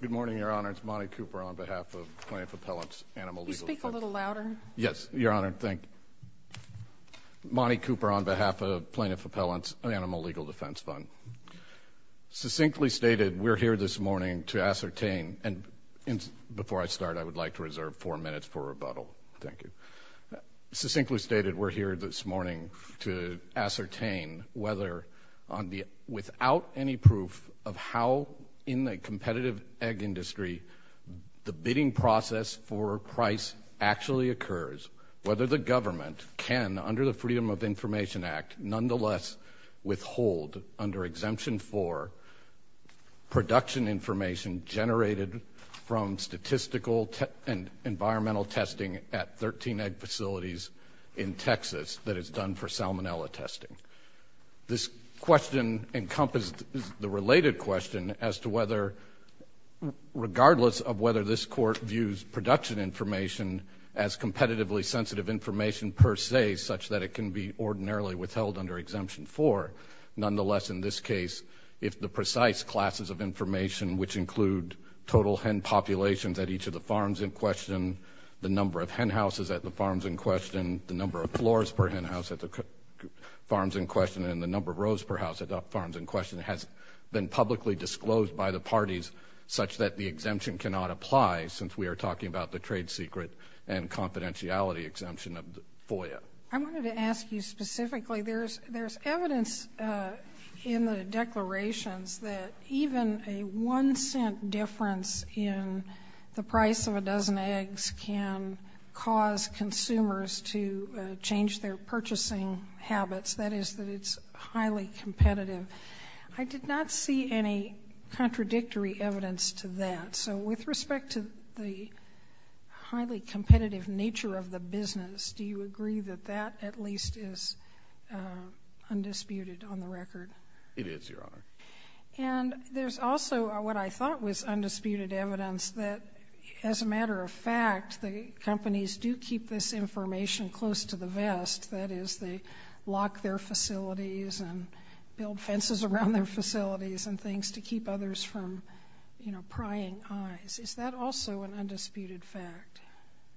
Good morning, Your Honor. It's Monty Cooper on behalf of Plaintiff Appellants Animal Legal Defense Fund. Succinctly stated, we're here this morning to ascertain whether, without any proof, of how in the competitive egg industry the bidding process for price actually occurs, whether the government can, under the Freedom of Information Act, nonetheless withhold, under Exemption 4, production information generated from statistical and environmental testing at 13 egg facilities in Texas that is done for salmonella testing. This question encompassed the related question as to whether, regardless of whether this Court views production information as competitively sensitive information per se, such that it can be ordinarily withheld under Exemption 4, nonetheless, in this case, if the precise classes of information which include total hen populations at each of the farms in question, the number of hen houses at the farms in question, the number of floors per hen house at the farms in question, and the number of rows per house at the farms in question has been publicly disclosed by the parties such that the exemption cannot apply since we are talking about the trade secret and confidentiality exemption of FOIA. I wanted to ask you specifically, there's evidence in the declarations that even a one-cent difference in the price of a dozen eggs can cause consumers to change their purchasing habits, that is, that it's highly competitive. I did not see any contradictory evidence to that. So with respect to the highly competitive nature of the business, do you agree that that at least is undisputed on the record? It is, Your Honor. And there's also what I thought was undisputed evidence that, as a matter of fact, the companies do keep this information close to the vest, that is, they lock their facilities and build fences around their facilities and things to keep others from, you know, prying eyes. Is that also an undisputed fact?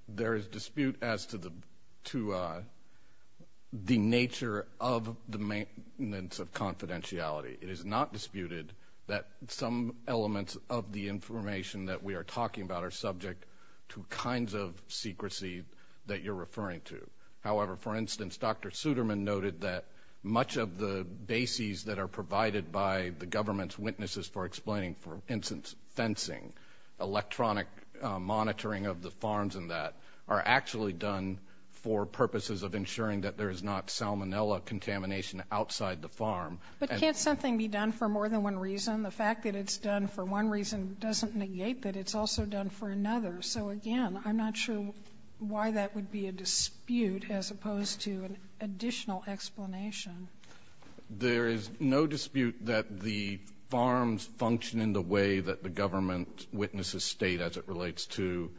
There is dispute as to the nature of the maintenance of confidentiality. It is not disputed that some elements of the information that we are talking about are subject to kinds of secrecy that you're referring to. However, for instance, Dr. Suderman noted that much of the bases that are provided by the government's witnesses for explaining, for instance, fencing, electronic monitoring of the farms and that are actually done for purposes of ensuring that there is not salmonella contamination outside the farm. But can't something be done for more than one reason? The fact that it's done for one reason doesn't negate that it's also done for another. So again, I'm not sure why that would be a dispute as opposed to an additional explanation. There is no dispute that the farms function in the way that the government witnesses state as it relates to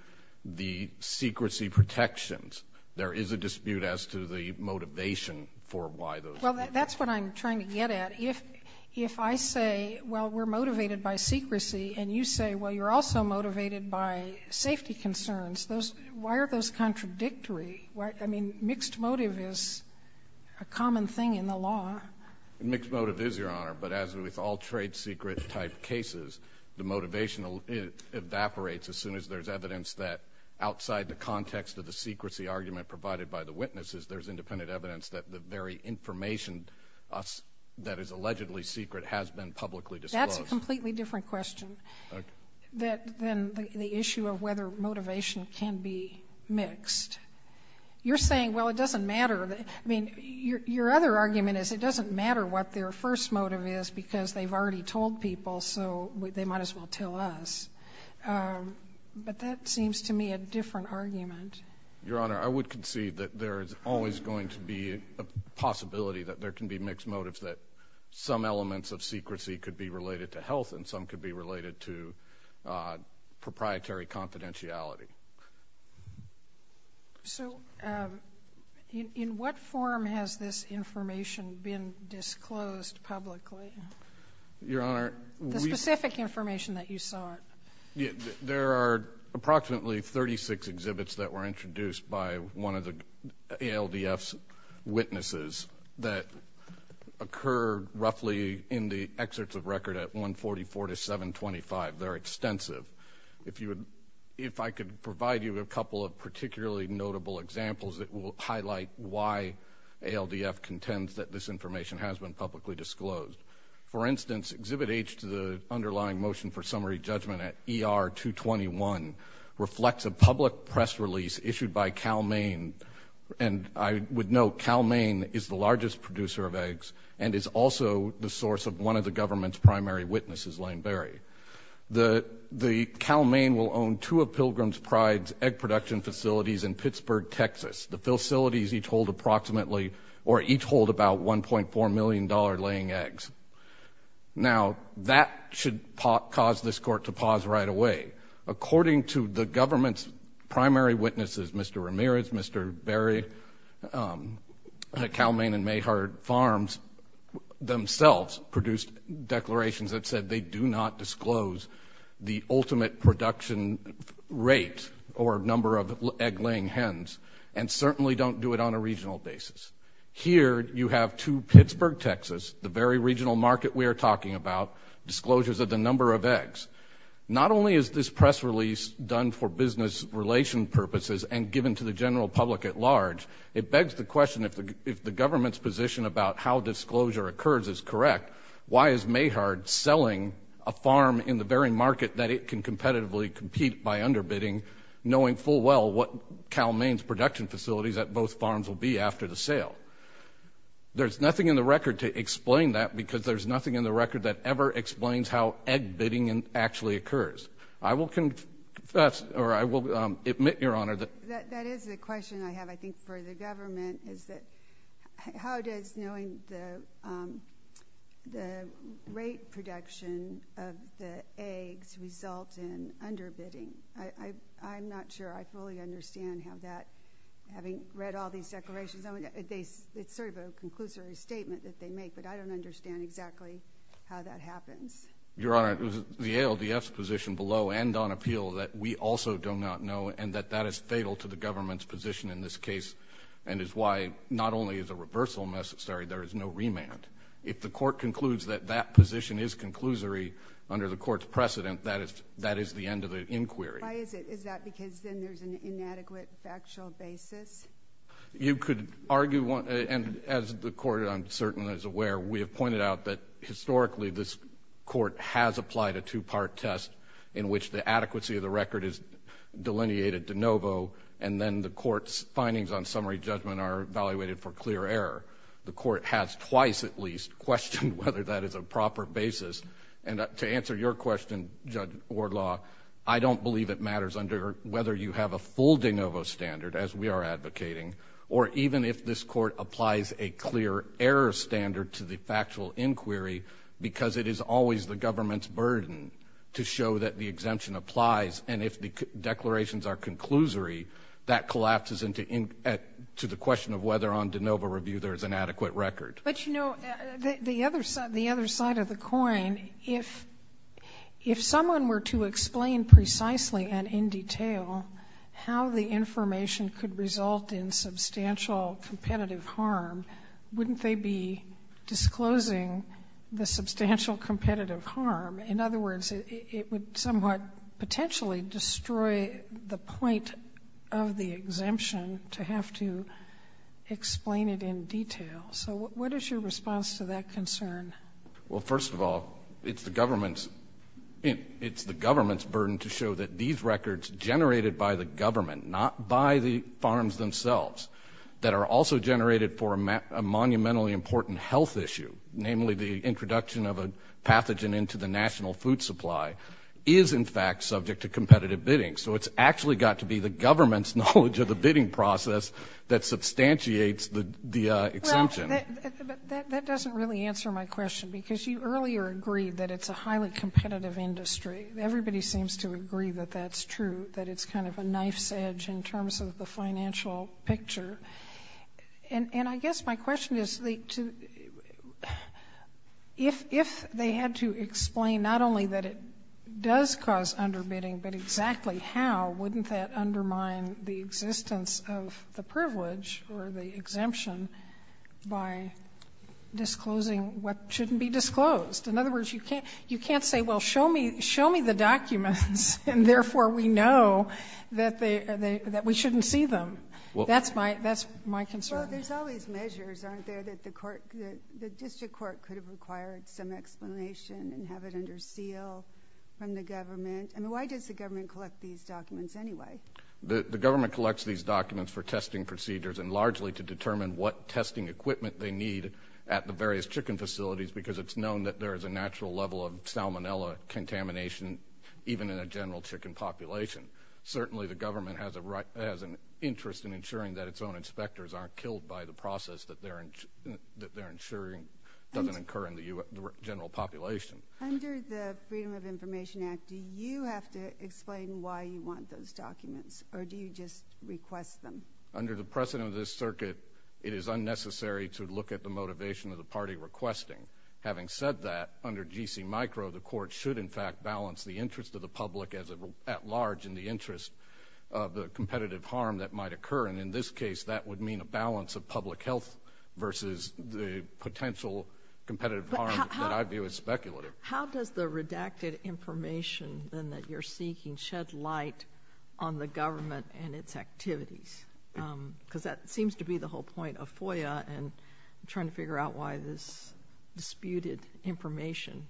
the secrecy protections. There is a dispute as to the motivation for why those things are done. Well, that's what I'm trying to get at. If I say, well, we're motivated by secrecy, and you say, well, you're also motivated by safety concerns, why are those contradictory? I mean, mixed motive is a common thing in the law. Mixed motive is, Your Honor, but as with all trade secret type cases, the motivation evaporates as soon as there's evidence that outside the context of the secrecy argument provided by the witnesses, there's independent evidence that the very information that is allegedly secret has been publicly disclosed. That's a completely different question than the issue of whether motivation can be mixed. You're saying, well, it doesn't matter. I mean, your other argument is it doesn't matter what their first motive is because they've already told people, so they might as well tell us. But that seems to me a different argument. Your Honor, I would concede that there is always going to be a possibility that there can be mixed motives that some elements of secrecy could be related to health and some could be related to proprietary confidentiality. So, in what form has this information been disclosed publicly? Your Honor, we The specific information that you saw. There are approximately 36 exhibits that were introduced by one of the ALDF's witnesses that occurred roughly in the excerpts of record at 144 to 725. They're extensive. If I could provide you a couple of particularly notable examples that will highlight why ALDF contends that this information has been publicly disclosed. For instance, Exhibit H to the underlying motion for summary judgment at ER-221 reflects a public press release issued by Cal-Maine, and I would note Cal-Maine is the largest producer of eggs and is also the source of one of the government's primary witnesses, Lane Berry. The Cal-Maine will own two of Alfred's egg production facilities in Pittsburgh, Texas. The facilities each hold approximately or each hold about $1.4 million laying eggs. Now, that should cause this Court to pause right away. According to the government's primary witnesses, Mr. Ramirez, Mr. Berry, Cal-Maine and Mayhard Farms themselves produced declarations that said they do not disclose the ultimate production rate or number of egg-laying hens and certainly don't do it on a regional basis. Here, you have to Pittsburgh, Texas, the very regional market we are talking about, disclosures of the number of eggs. Not only is this press release done for business relation purposes and given to the general public at large, it begs the question, if the government's position about how disclosure occurs is correct, why is Mayhard selling a farm in the very market that it can competitively compete by underbidding, knowing full well what Cal-Maine's production facilities at both farms will be after the sale? There's nothing in the record to explain that because there's nothing in the record that ever explains how egg-bidding actually occurs. I will admit, Your Honor, that is the question I have, I think, for the government, is that how does knowing the rate production of the eggs result in underbidding? I'm not sure I fully understand how that, having read all these declarations, it's sort of a conclusory statement that they make, but I don't understand exactly how that happens. Your Honor, it was the ALDF's position below and on appeal that we also do not know and that that is fatal to the government's position in this case and is why not only is a reversal necessary, there is no remand. If the court concludes that that position is conclusory under the court's precedent, that is the end of the inquiry. Why is it? Is that because then there's an inadequate factual basis? You could argue one, and as the court, I'm certain, is aware, we have pointed out that historically this adequacy of the record is delineated de novo, and then the court's findings on summary judgment are evaluated for clear error. The court has twice, at least, questioned whether that is a proper basis, and to answer your question, Judge Wardlaw, I don't believe it matters under whether you have a full de novo standard, as we are advocating, or even if this court applies a clear error standard to the factual inquiry because it is always the government's that applies, and if the declarations are conclusory, that collapses into the question of whether on de novo review there is an adequate record. But, you know, the other side of the coin, if someone were to explain precisely and in detail how the information could result in substantial competitive harm, wouldn't they be disclosing the substantial competitive harm? In other words, it would somewhat potentially destroy the point of the exemption to have to explain it in detail. So what is your response to that concern? Well, first of all, it's the government's burden to show that these records generated by the government, not by the farms themselves, that are also generated for a monumentally important health issue, namely the introduction of a pathogen into the national food supply, is in fact subject to competitive bidding. So it's actually got to be the government's knowledge of the bidding process that substantiates the exemption. That doesn't really answer my question, because you earlier agreed that it's a highly competitive industry. Everybody seems to agree that that's true, that it's kind of a knife's edge in terms of the financial picture. And I guess my question is, if they had to explain not only that it does cause underbidding, but exactly how, wouldn't that undermine the existence of the privilege or the exemption by disclosing what shouldn't be disclosed? In other words, you can't say, well, show me the documents, and therefore we know that we shouldn't see them. That's my concern. Well, there's always measures, aren't there, that the district court could have required some explanation and have it under seal from the government? I mean, why does the government collect these documents anyway? The government collects these documents for testing procedures and largely to determine what testing equipment they need at the various chicken facilities, because it's known that there is a natural level of salmonella contamination even in a general chicken population. Certainly the government has an interest in ensuring that its own inspectors aren't killed by the process that they're ensuring doesn't occur in the general population. Under the Freedom of Information Act, do you have to explain why you want those documents, or do you just request them? Under the precedent of this circuit, it is unnecessary to look at the motivation of the micro, the court should in fact balance the interest of the public at large in the interest of the competitive harm that might occur. And in this case, that would mean a balance of public health versus the potential competitive harm that I view as speculative. How does the redacted information then that you're seeking shed light on the government and its activities? Because that seems to be the whole point of FOIA and trying to figure out why this disputed information.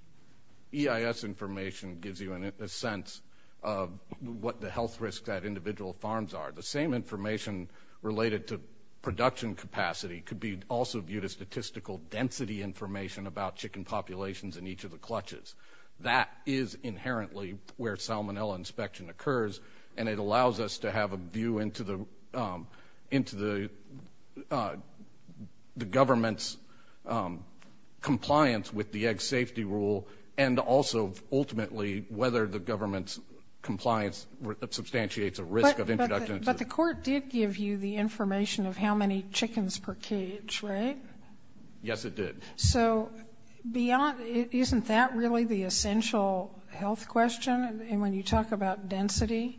EIS information gives you a sense of what the health risks at individual farms are. The same information related to production capacity could be also viewed as statistical density information about chicken populations in each of the clutches. That is inherently where salmonella inspection occurs, and it allows us to have a view into the government's compliance with the egg safety rule, and also ultimately whether the government's compliance substantiates a risk of introduction. But the court did give you the information of how many chickens per cage, right? Yes, it did. So beyond, isn't that really the essential health question when you talk about density?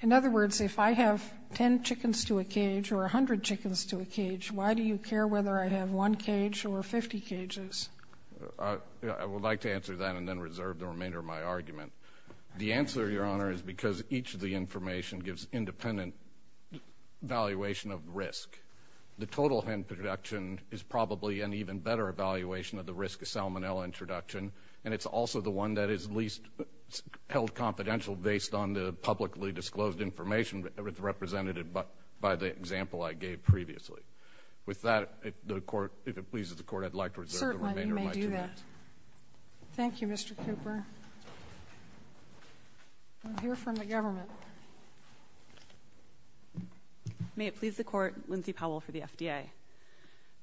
In other words, if I have 10 chickens to a cage or 100 chickens to a cage, why do you care whether I have one cage or 50 cages? I would like to answer that and then reserve the remainder of my argument. The answer, Your Honor, is because each of the information gives independent valuation of risk. The total hen production is probably an even better evaluation of the risk of salmonella introduction, and it's also the one that is least held confidential based on the publicly disclosed information represented by the example I gave previously. With that, if it pleases the Court, I'd like to reserve the remainder of my argument. Certainly, you may do that. Thank you, Mr. Cooper. We'll hear from the government. May it please the Court, Lindsay Powell for the FDA.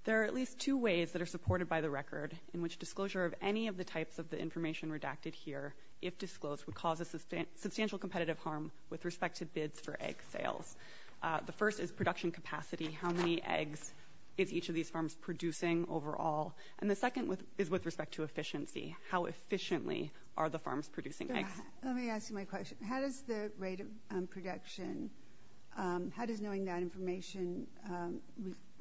There are at least two ways that are supported by the record in which disclosure of any of the types of the information redacted here, if disclosed, would cause a substantial competitive harm with respect to bids for egg sales. The first is production capacity. How many eggs is each of these farms producing overall? And the second is with respect to efficiency. How efficiently are the farms producing eggs? Let me ask you my question. How does the rate of production, how does knowing that information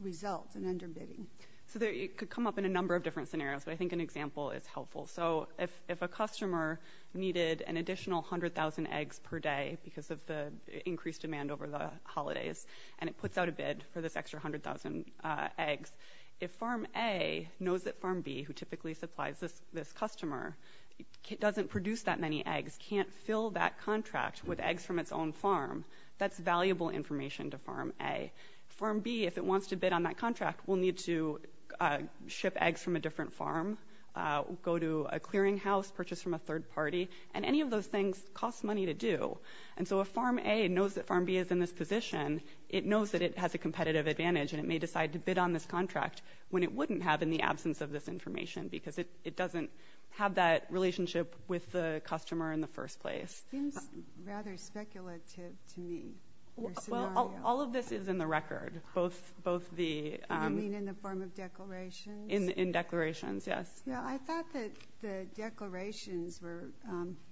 result in underbidding? So it could come up in a number of different scenarios, but I think an example is helpful. So if a customer needed an additional 100,000 eggs per day because of the increased demand over the holidays, and it puts out a bid for this extra 100,000 eggs, if Farm A knows that can't fill that contract with eggs from its own farm, that's valuable information to Farm A. Farm B, if it wants to bid on that contract, will need to ship eggs from a different farm, go to a clearinghouse, purchase from a third party, and any of those things cost money to do. And so if Farm A knows that Farm B is in this position, it knows that it has a competitive advantage and it may decide to bid on this contract when it wouldn't have in the absence of this information because it doesn't have that relationship with the company in the first place. Seems rather speculative to me. Well, all of this is in the record, both the... You mean in the form of declarations? In declarations, yes. Yeah, I thought that the declarations were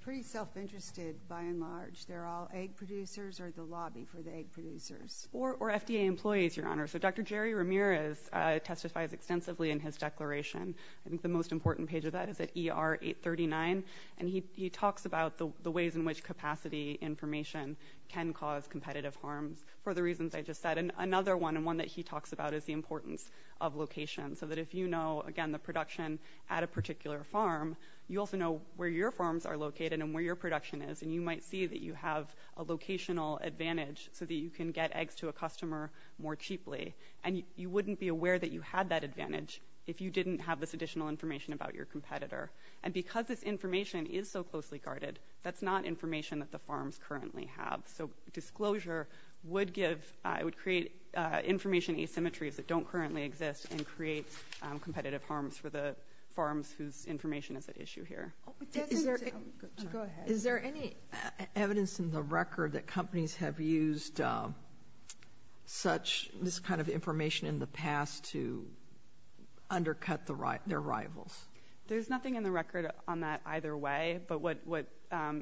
pretty self-interested by and large. They're all egg producers or the lobby for the egg producers. Or FDA employees, Your Honor. So Dr. Jerry Ramirez testifies extensively in his declaration. I think the most important page of that is at ER 839, and he talks about the ways in which capacity information can cause competitive harms for the reasons I just said. And another one, and one that he talks about, is the importance of location. So that if you know, again, the production at a particular farm, you also know where your farms are located and where your production is, and you might see that you have a locational advantage so that you can get eggs to a customer more cheaply. And you wouldn't be aware that you had that additional information about your competitor. And because this information is so closely guarded, that's not information that the farms currently have. So disclosure would give... It would create information asymmetries that don't currently exist and create competitive harms for the farms whose information is at issue here. Go ahead. Is there any evidence in the record that companies have used such... This kind of disclosure against their rivals? There's nothing in the record on that either way. But what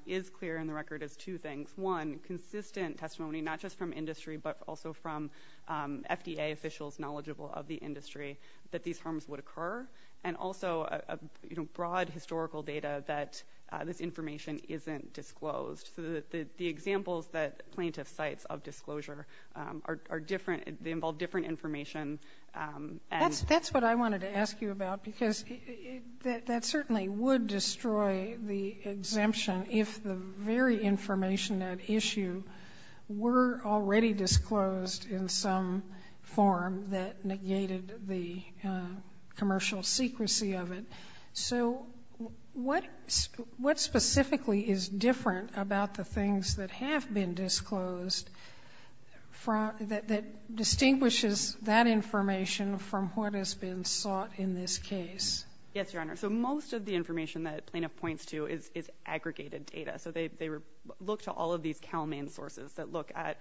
is clear in the record is two things. One, consistent testimony, not just from industry, but also from FDA officials knowledgeable of the industry, that these harms would occur. And also, you know, broad historical data that this information isn't disclosed. So the examples that plaintiffs cite of disclosure are different. They involve different information. That's what I wanted to ask you about. Because that certainly would destroy the exemption if the very information at issue were already disclosed in some form that negated the commercial secrecy of it. So what specifically is different about the things that have been disclosed? Yes, Your Honor. So most of the information that plaintiff points to is aggregated data. So they look to all of these cow main sources that look at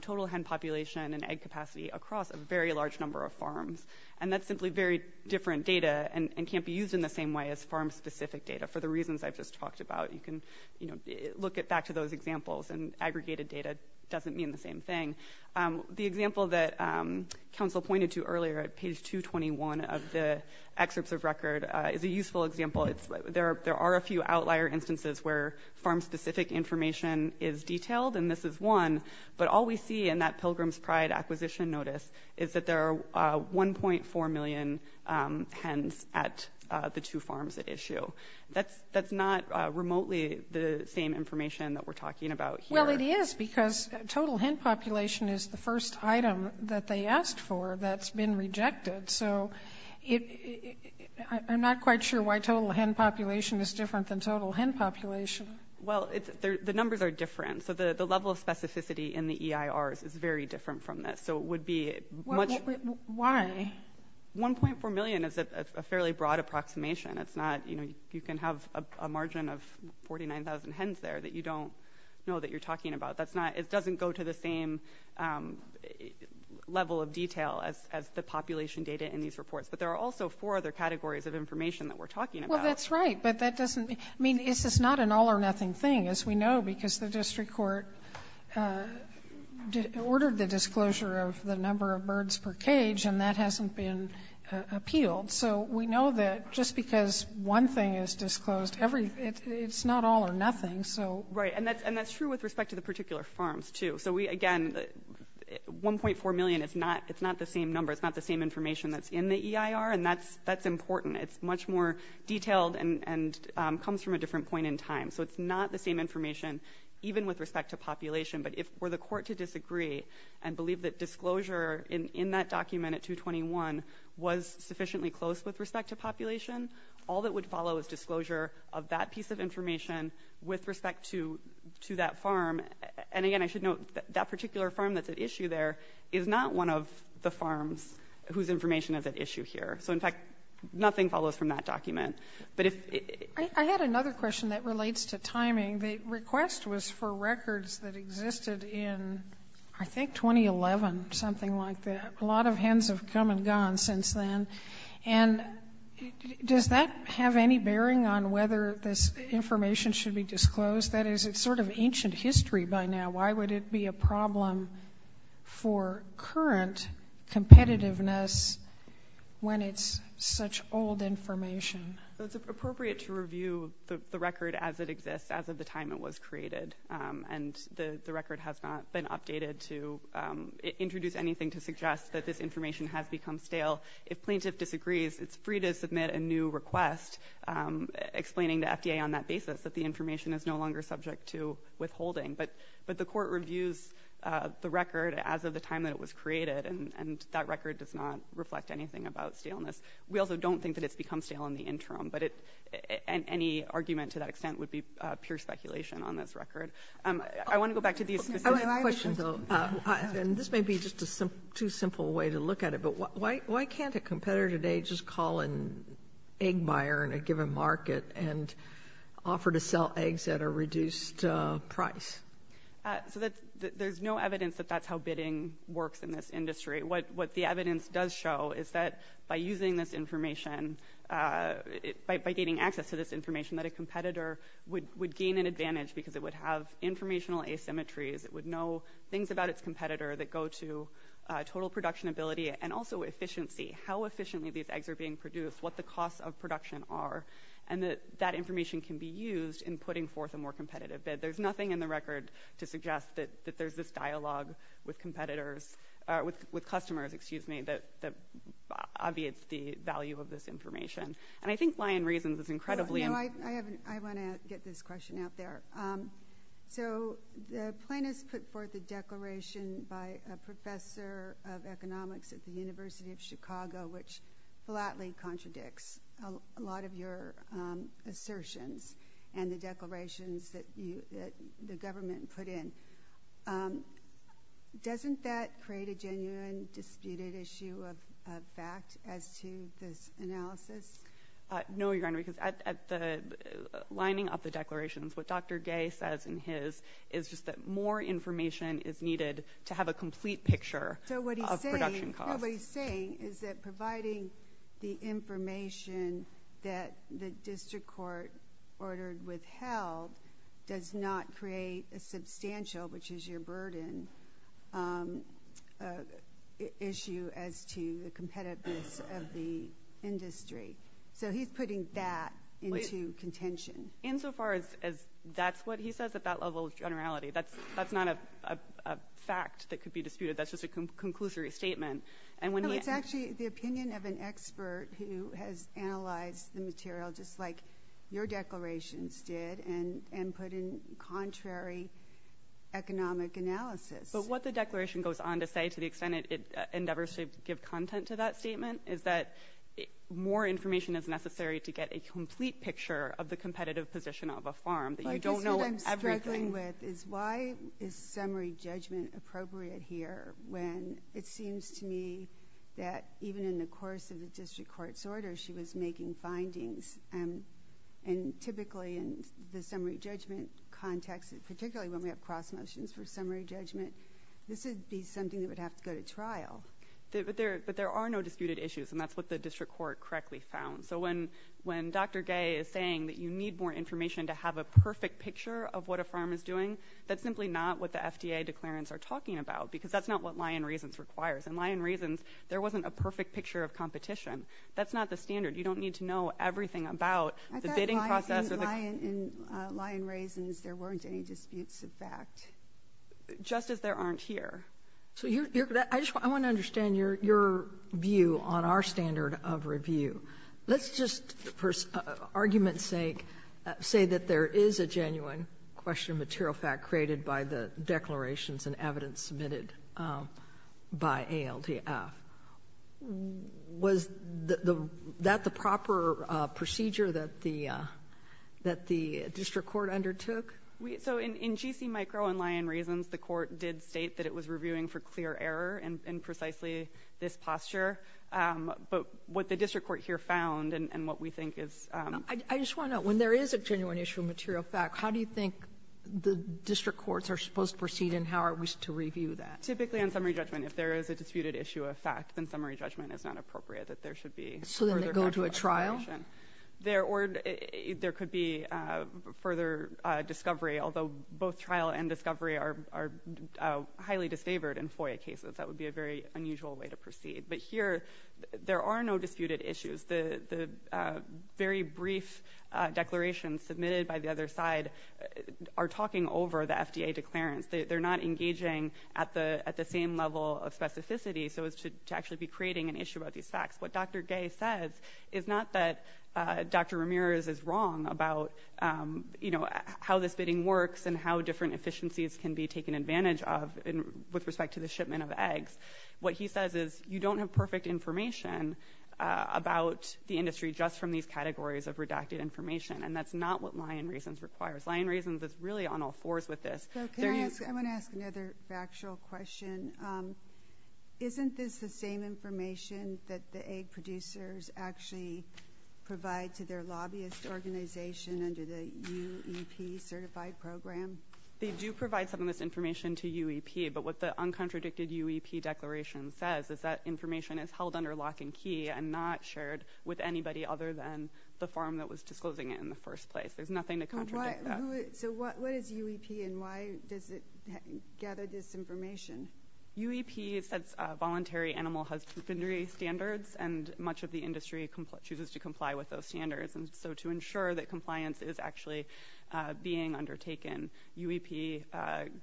total hen population and egg capacity across a very large number of farms. And that's simply very different data and can't be used in the same way as farm specific data for the reasons I've just talked about. You can look back to those examples and aggregated data doesn't mean the same thing. The example that counsel pointed to earlier at page 221 of the excerpts of record is a useful example. There are a few outlier instances where farm specific information is detailed and this is one. But all we see in that Pilgrim's Pride acquisition notice is that there are 1.4 million hens at the two farms at issue. That's not remotely the same information that we're talking about here. But it is because total hen population is the first item that they asked for that's been rejected. So I'm not quite sure why total hen population is different than total hen population. Well, the numbers are different. So the level of specificity in the EIRs is very different from this. So it would be much... Why? 1.4 million is a fairly broad approximation. You can have a margin of 49,000 hens there that you don't know that you're talking about. It doesn't go to the same level of detail as the population data in these reports. But there are also four other categories of information that we're talking about. Well, that's right. But that doesn't mean... I mean, this is not an all or nothing thing as we know because the district court ordered the disclosure of the number of birds per cage and that hasn't been appealed. So we know that just because one thing is disclosed, it's not all or nothing. Right. And that's true with respect to the particular farms too. So again, 1.4 million is not the same number. It's not the same information that's in the EIR and that's important. It's much more detailed and comes from a different point in time. So it's not the same information even with respect to population. But if for the court to disagree and believe that disclosure in that document at 221 was sufficiently close with respect to population, all that would follow is disclosure of that piece of information with respect to that farm. And again, I should note that that particular farm that's at issue there is not one of the farms whose information is at issue here. So in fact, nothing follows from that document. I had another question that relates to timing. The request was for records that existed in I think 2011, something like that. A lot of hens have come and gone since then. And does that have any bearing on whether this information should be disclosed? That is, it's sort of ancient history by now. Why would it be a problem for current competitiveness when it's such old information? It's appropriate to review the record as it exists, as of the time it was created. And the record has not been updated to introduce anything to suggest that this information has become stale. If plaintiff disagrees, it's free to submit a new request explaining to FDA on that basis that the information is no longer subject to withholding. But the court reviews the record as of the time that it was created, and that record does not reflect anything about staleness. We also don't think that it's become stale in the interim. But any argument to that extent would be pure speculation on this record. I want to go back to these specific questions. This may be just a too simple way to look at it, but why can't a competitor today just call an egg buyer in a given market and offer to sell eggs at a reduced price? There's no evidence that that's how bidding works in this industry. What the evidence does show is that by using this information, by gaining access to this information, that a competitor would gain an advantage because it would have informational asymmetries. It would know things about its competitor that go to total production ability and also efficiency. How efficiently these eggs are being produced, what the costs of production are, and that information can be used in putting forth a more competitive bid. There's nothing in the record to suggest that there's this dialogue with customers that obviates the value of this information. I think Lyon Reasons is incredibly important. I want to get this question out there. The plaintiffs put forth a declaration by a professor of economics at the University of Chicago, which flatly contradicts a lot of your assertions and the declarations that the government put in. Doesn't that create a genuine disputed issue of fact as to this analysis? No, Your Honor, because at the lining of the declarations, what Dr. Gay says in his is just that more information is needed to have a complete picture of production costs. So what he's saying is that providing the information that the district court ordered withheld does not create a substantial, which is your burden, issue as to the competitiveness of the industry. So he's putting that into contention. Insofar as that's what he says at that level of generality. That's not a fact that could be disputed. That's just a conclusory statement. No, it's actually the opinion of an expert who has analyzed the material, just like your declarations did, and put in contrary economic analysis. But what the declaration goes on to say, to the extent it endeavors to give content to that statement, is that more information is necessary to get a complete picture of the competitive position of a farm. But that's what I'm struggling with, is why is summary judgment appropriate here, when it seems to me that even in the course of the district court's order, she was making her findings, and typically in the summary judgment context, particularly when we have cross motions for summary judgment, this would be something that would have to go to trial. But there are no disputed issues, and that's what the district court correctly found. So when Dr. Gay is saying that you need more information to have a perfect picture of what a farm is doing, that's simply not what the FDA declarants are talking about, because that's not what lie and reasons requires. That's not the standard. You don't need to know everything about the bidding process. I thought in lie and reasons, there weren't any disputes of fact. Just as there aren't here. I want to understand your view on our standard of review. Let's just, for argument's sake, say that there is a genuine question of material fact created by the declarations and evidence submitted by ALTF. Was that the proper procedure that the district court undertook? So in GC micro and lie and reasons, the court did state that it was reviewing for clear error in precisely this posture, but what the district court here found and what we think is— I just want to know, when there is a genuine issue of material fact, how do you think the district courts are supposed to proceed, and how are we to review that? Typically on summary judgment, if there is a disputed issue of fact, then summary judgment is not appropriate, that there should be— So then they go to a trial? Or there could be further discovery, although both trial and discovery are highly disfavored in FOIA cases. That would be a very unusual way to proceed. But here, there are no disputed issues. The very brief declarations submitted by the other side are talking over the FDA declarants. They're not engaging at the same level of specificity so as to actually be creating an issue about these facts. What Dr. Gay says is not that Dr. Ramirez is wrong about how this bidding works and how different efficiencies can be taken advantage of with respect to the shipment of eggs. What he says is you don't have perfect information about the industry just from these categories of redacted information, and that's not what lie and reasons requires. Lie and reasons is really on all fours with this. I want to ask another factual question. Isn't this the same information that the egg producers actually provide to their lobbyist organization under the UEP certified program? They do provide some of this information to UEP, but what the uncontradicted UEP declaration says is that information is held under lock and key and not shared with anybody other than the firm that was disclosing it in the first place. There's nothing to contradict that. What is UEP and why does it gather this information? UEP sets voluntary animal husbandry standards, and much of the industry chooses to comply with those standards. To ensure that compliance is actually being undertaken, UEP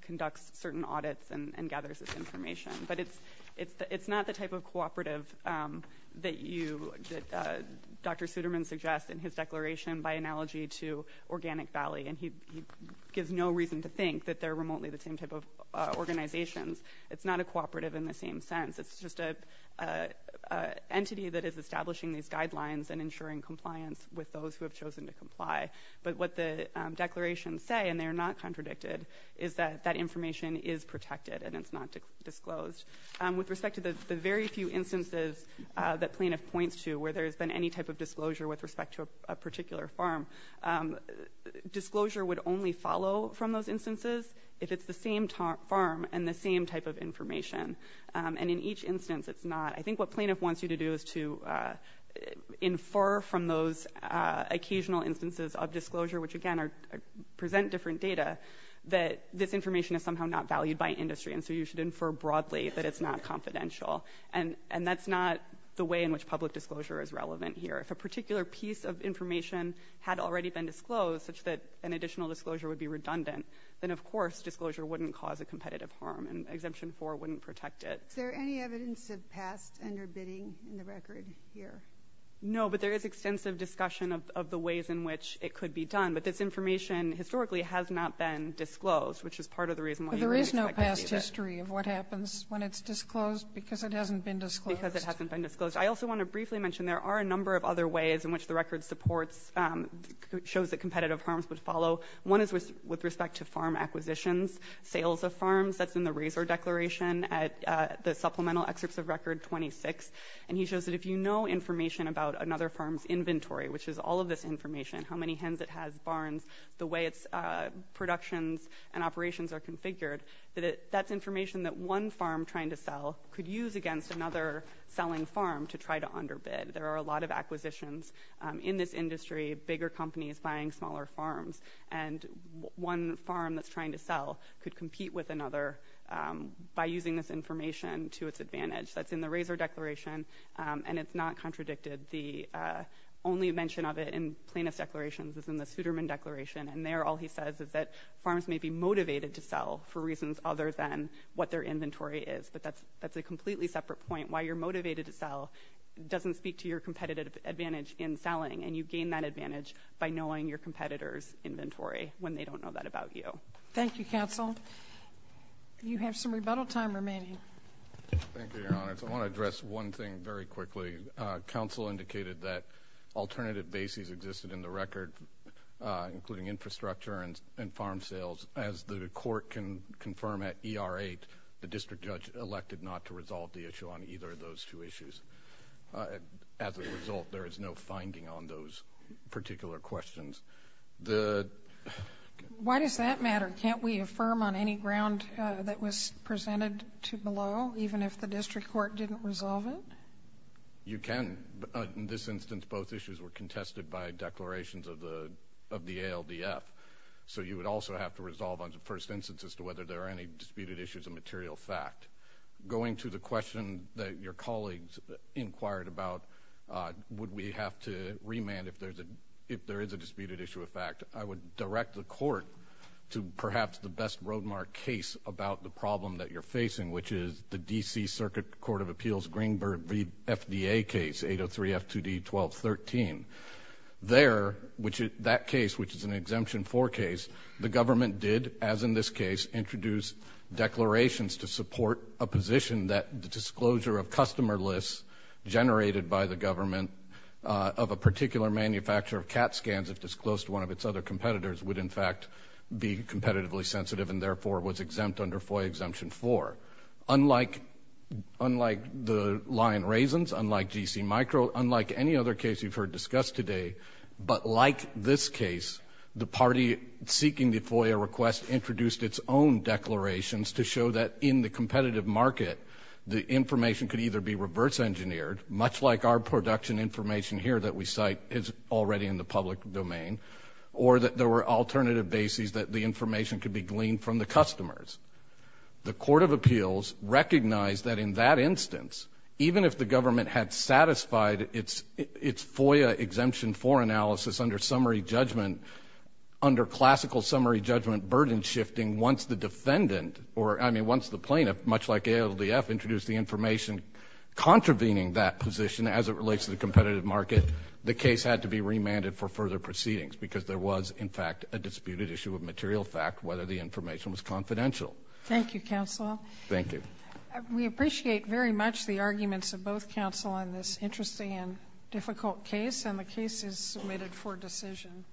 conducts certain audits and gathers this information. It's not the type of cooperative that Dr. Suderman suggests in his declaration by analogy to Organic Valley, and he gives no reason to think that they're remotely the same type of organizations. It's not a cooperative in the same sense. It's just an entity that is establishing these guidelines and ensuring compliance with those who have chosen to comply. But what the declarations say, and they're not contradicted, is that that information is protected and it's not disclosed. With respect to the very few instances that plaintiff points to where there's been any type of disclosure with respect to a particular farm, disclosure would only follow from those instances if it's the same farm and the same type of information. And in each instance, it's not. I think what plaintiff wants you to do is to infer from those occasional instances of disclosure, which again present different data, that this information is somehow not valued by industry, and so you should infer broadly that it's not confidential. And that's not the way in which public disclosure is relevant here. If a particular piece of information had already been disclosed, such that an additional disclosure would be redundant, then of course disclosure wouldn't cause a competitive harm and Exemption 4 wouldn't protect it. Is there any evidence of past underbidding in the record here? No, but there is extensive discussion of the ways in which it could be done. But this information historically has not been disclosed, which is part of the reason why you would expect to see that. Do you have a history of what happens when it's disclosed? Because it hasn't been disclosed. Because it hasn't been disclosed. I also want to briefly mention there are a number of other ways in which the record supports – shows that competitive harms would follow. One is with respect to farm acquisitions, sales of farms. That's in the Razor Declaration at the Supplemental Excerpts of Record 26. And he shows that if you know information about another farm's inventory, which is all of this information, how many hens it has, barns, the way its productions and operations are configured, that that's information that one farm trying to sell could use against another selling farm to try to underbid. There are a lot of acquisitions in this industry, bigger companies buying smaller farms, and one farm that's trying to sell could compete with another by using this information to its advantage. That's in the Razor Declaration, and it's not contradicted. The only mention of it in plaintiff's declarations is in the Suderman Declaration, and there all he says is that farms may be motivated to sell for reasons other than what their inventory is. But that's a completely separate point. Why you're motivated to sell doesn't speak to your competitive advantage in selling, and you gain that advantage by knowing your competitor's inventory when they don't know that about you. Thank you, counsel. You have some rebuttal time remaining. Thank you, Your Honor. I want to address one thing very quickly. Counsel indicated that alternative bases existed in the record, including infrastructure and farm sales. As the court can confirm at ER 8, the district judge elected not to resolve the issue on either of those two issues. As a result, there is no finding on those particular questions. Why does that matter? Can't we affirm on any ground that was presented below, even if the district court didn't resolve it? You can. In this instance, both issues were contested by declarations of the ALDF, so you would also have to resolve on the first instance as to whether there are any disputed issues of material fact. Going to the question that your colleagues inquired about, would we have to remand if there is a disputed issue of fact, I would direct the court to perhaps the best road of appeals, Greenberg v. FDA case, 803 F2D 1213. There, that case, which is an Exemption 4 case, the government did, as in this case, introduce declarations to support a position that the disclosure of customer lists generated by the government of a particular manufacturer of CAT scans, if disclosed to one of its other competitors, would, in fact, be competitively sensitive and, therefore, was exempt under FOIA Exemption 4. Unlike the Lion Raisins, unlike GC Micro, unlike any other case you've heard discussed today, but like this case, the party seeking the FOIA request introduced its own declarations to show that in the competitive market, the information could either be reverse engineered, much like our production information here that we cite is already in the public domain, or that there were alternative bases that the information could be gleaned from the customers. The Court of Appeals recognized that in that instance, even if the government had satisfied its FOIA Exemption 4 analysis under summary judgment, under classical summary judgment burden shifting, once the defendant or, I mean, once the plaintiff, much like ALDF, introduced the information contravening that position as it relates to the competitive market, the case had to be remanded for further proceedings because there was, in fact, a Thank you, Counsel. Thank you, Counsel. Thank you. We appreciate very much the arguments of both counsel on this interesting and difficult case, and the case is submitted for decision.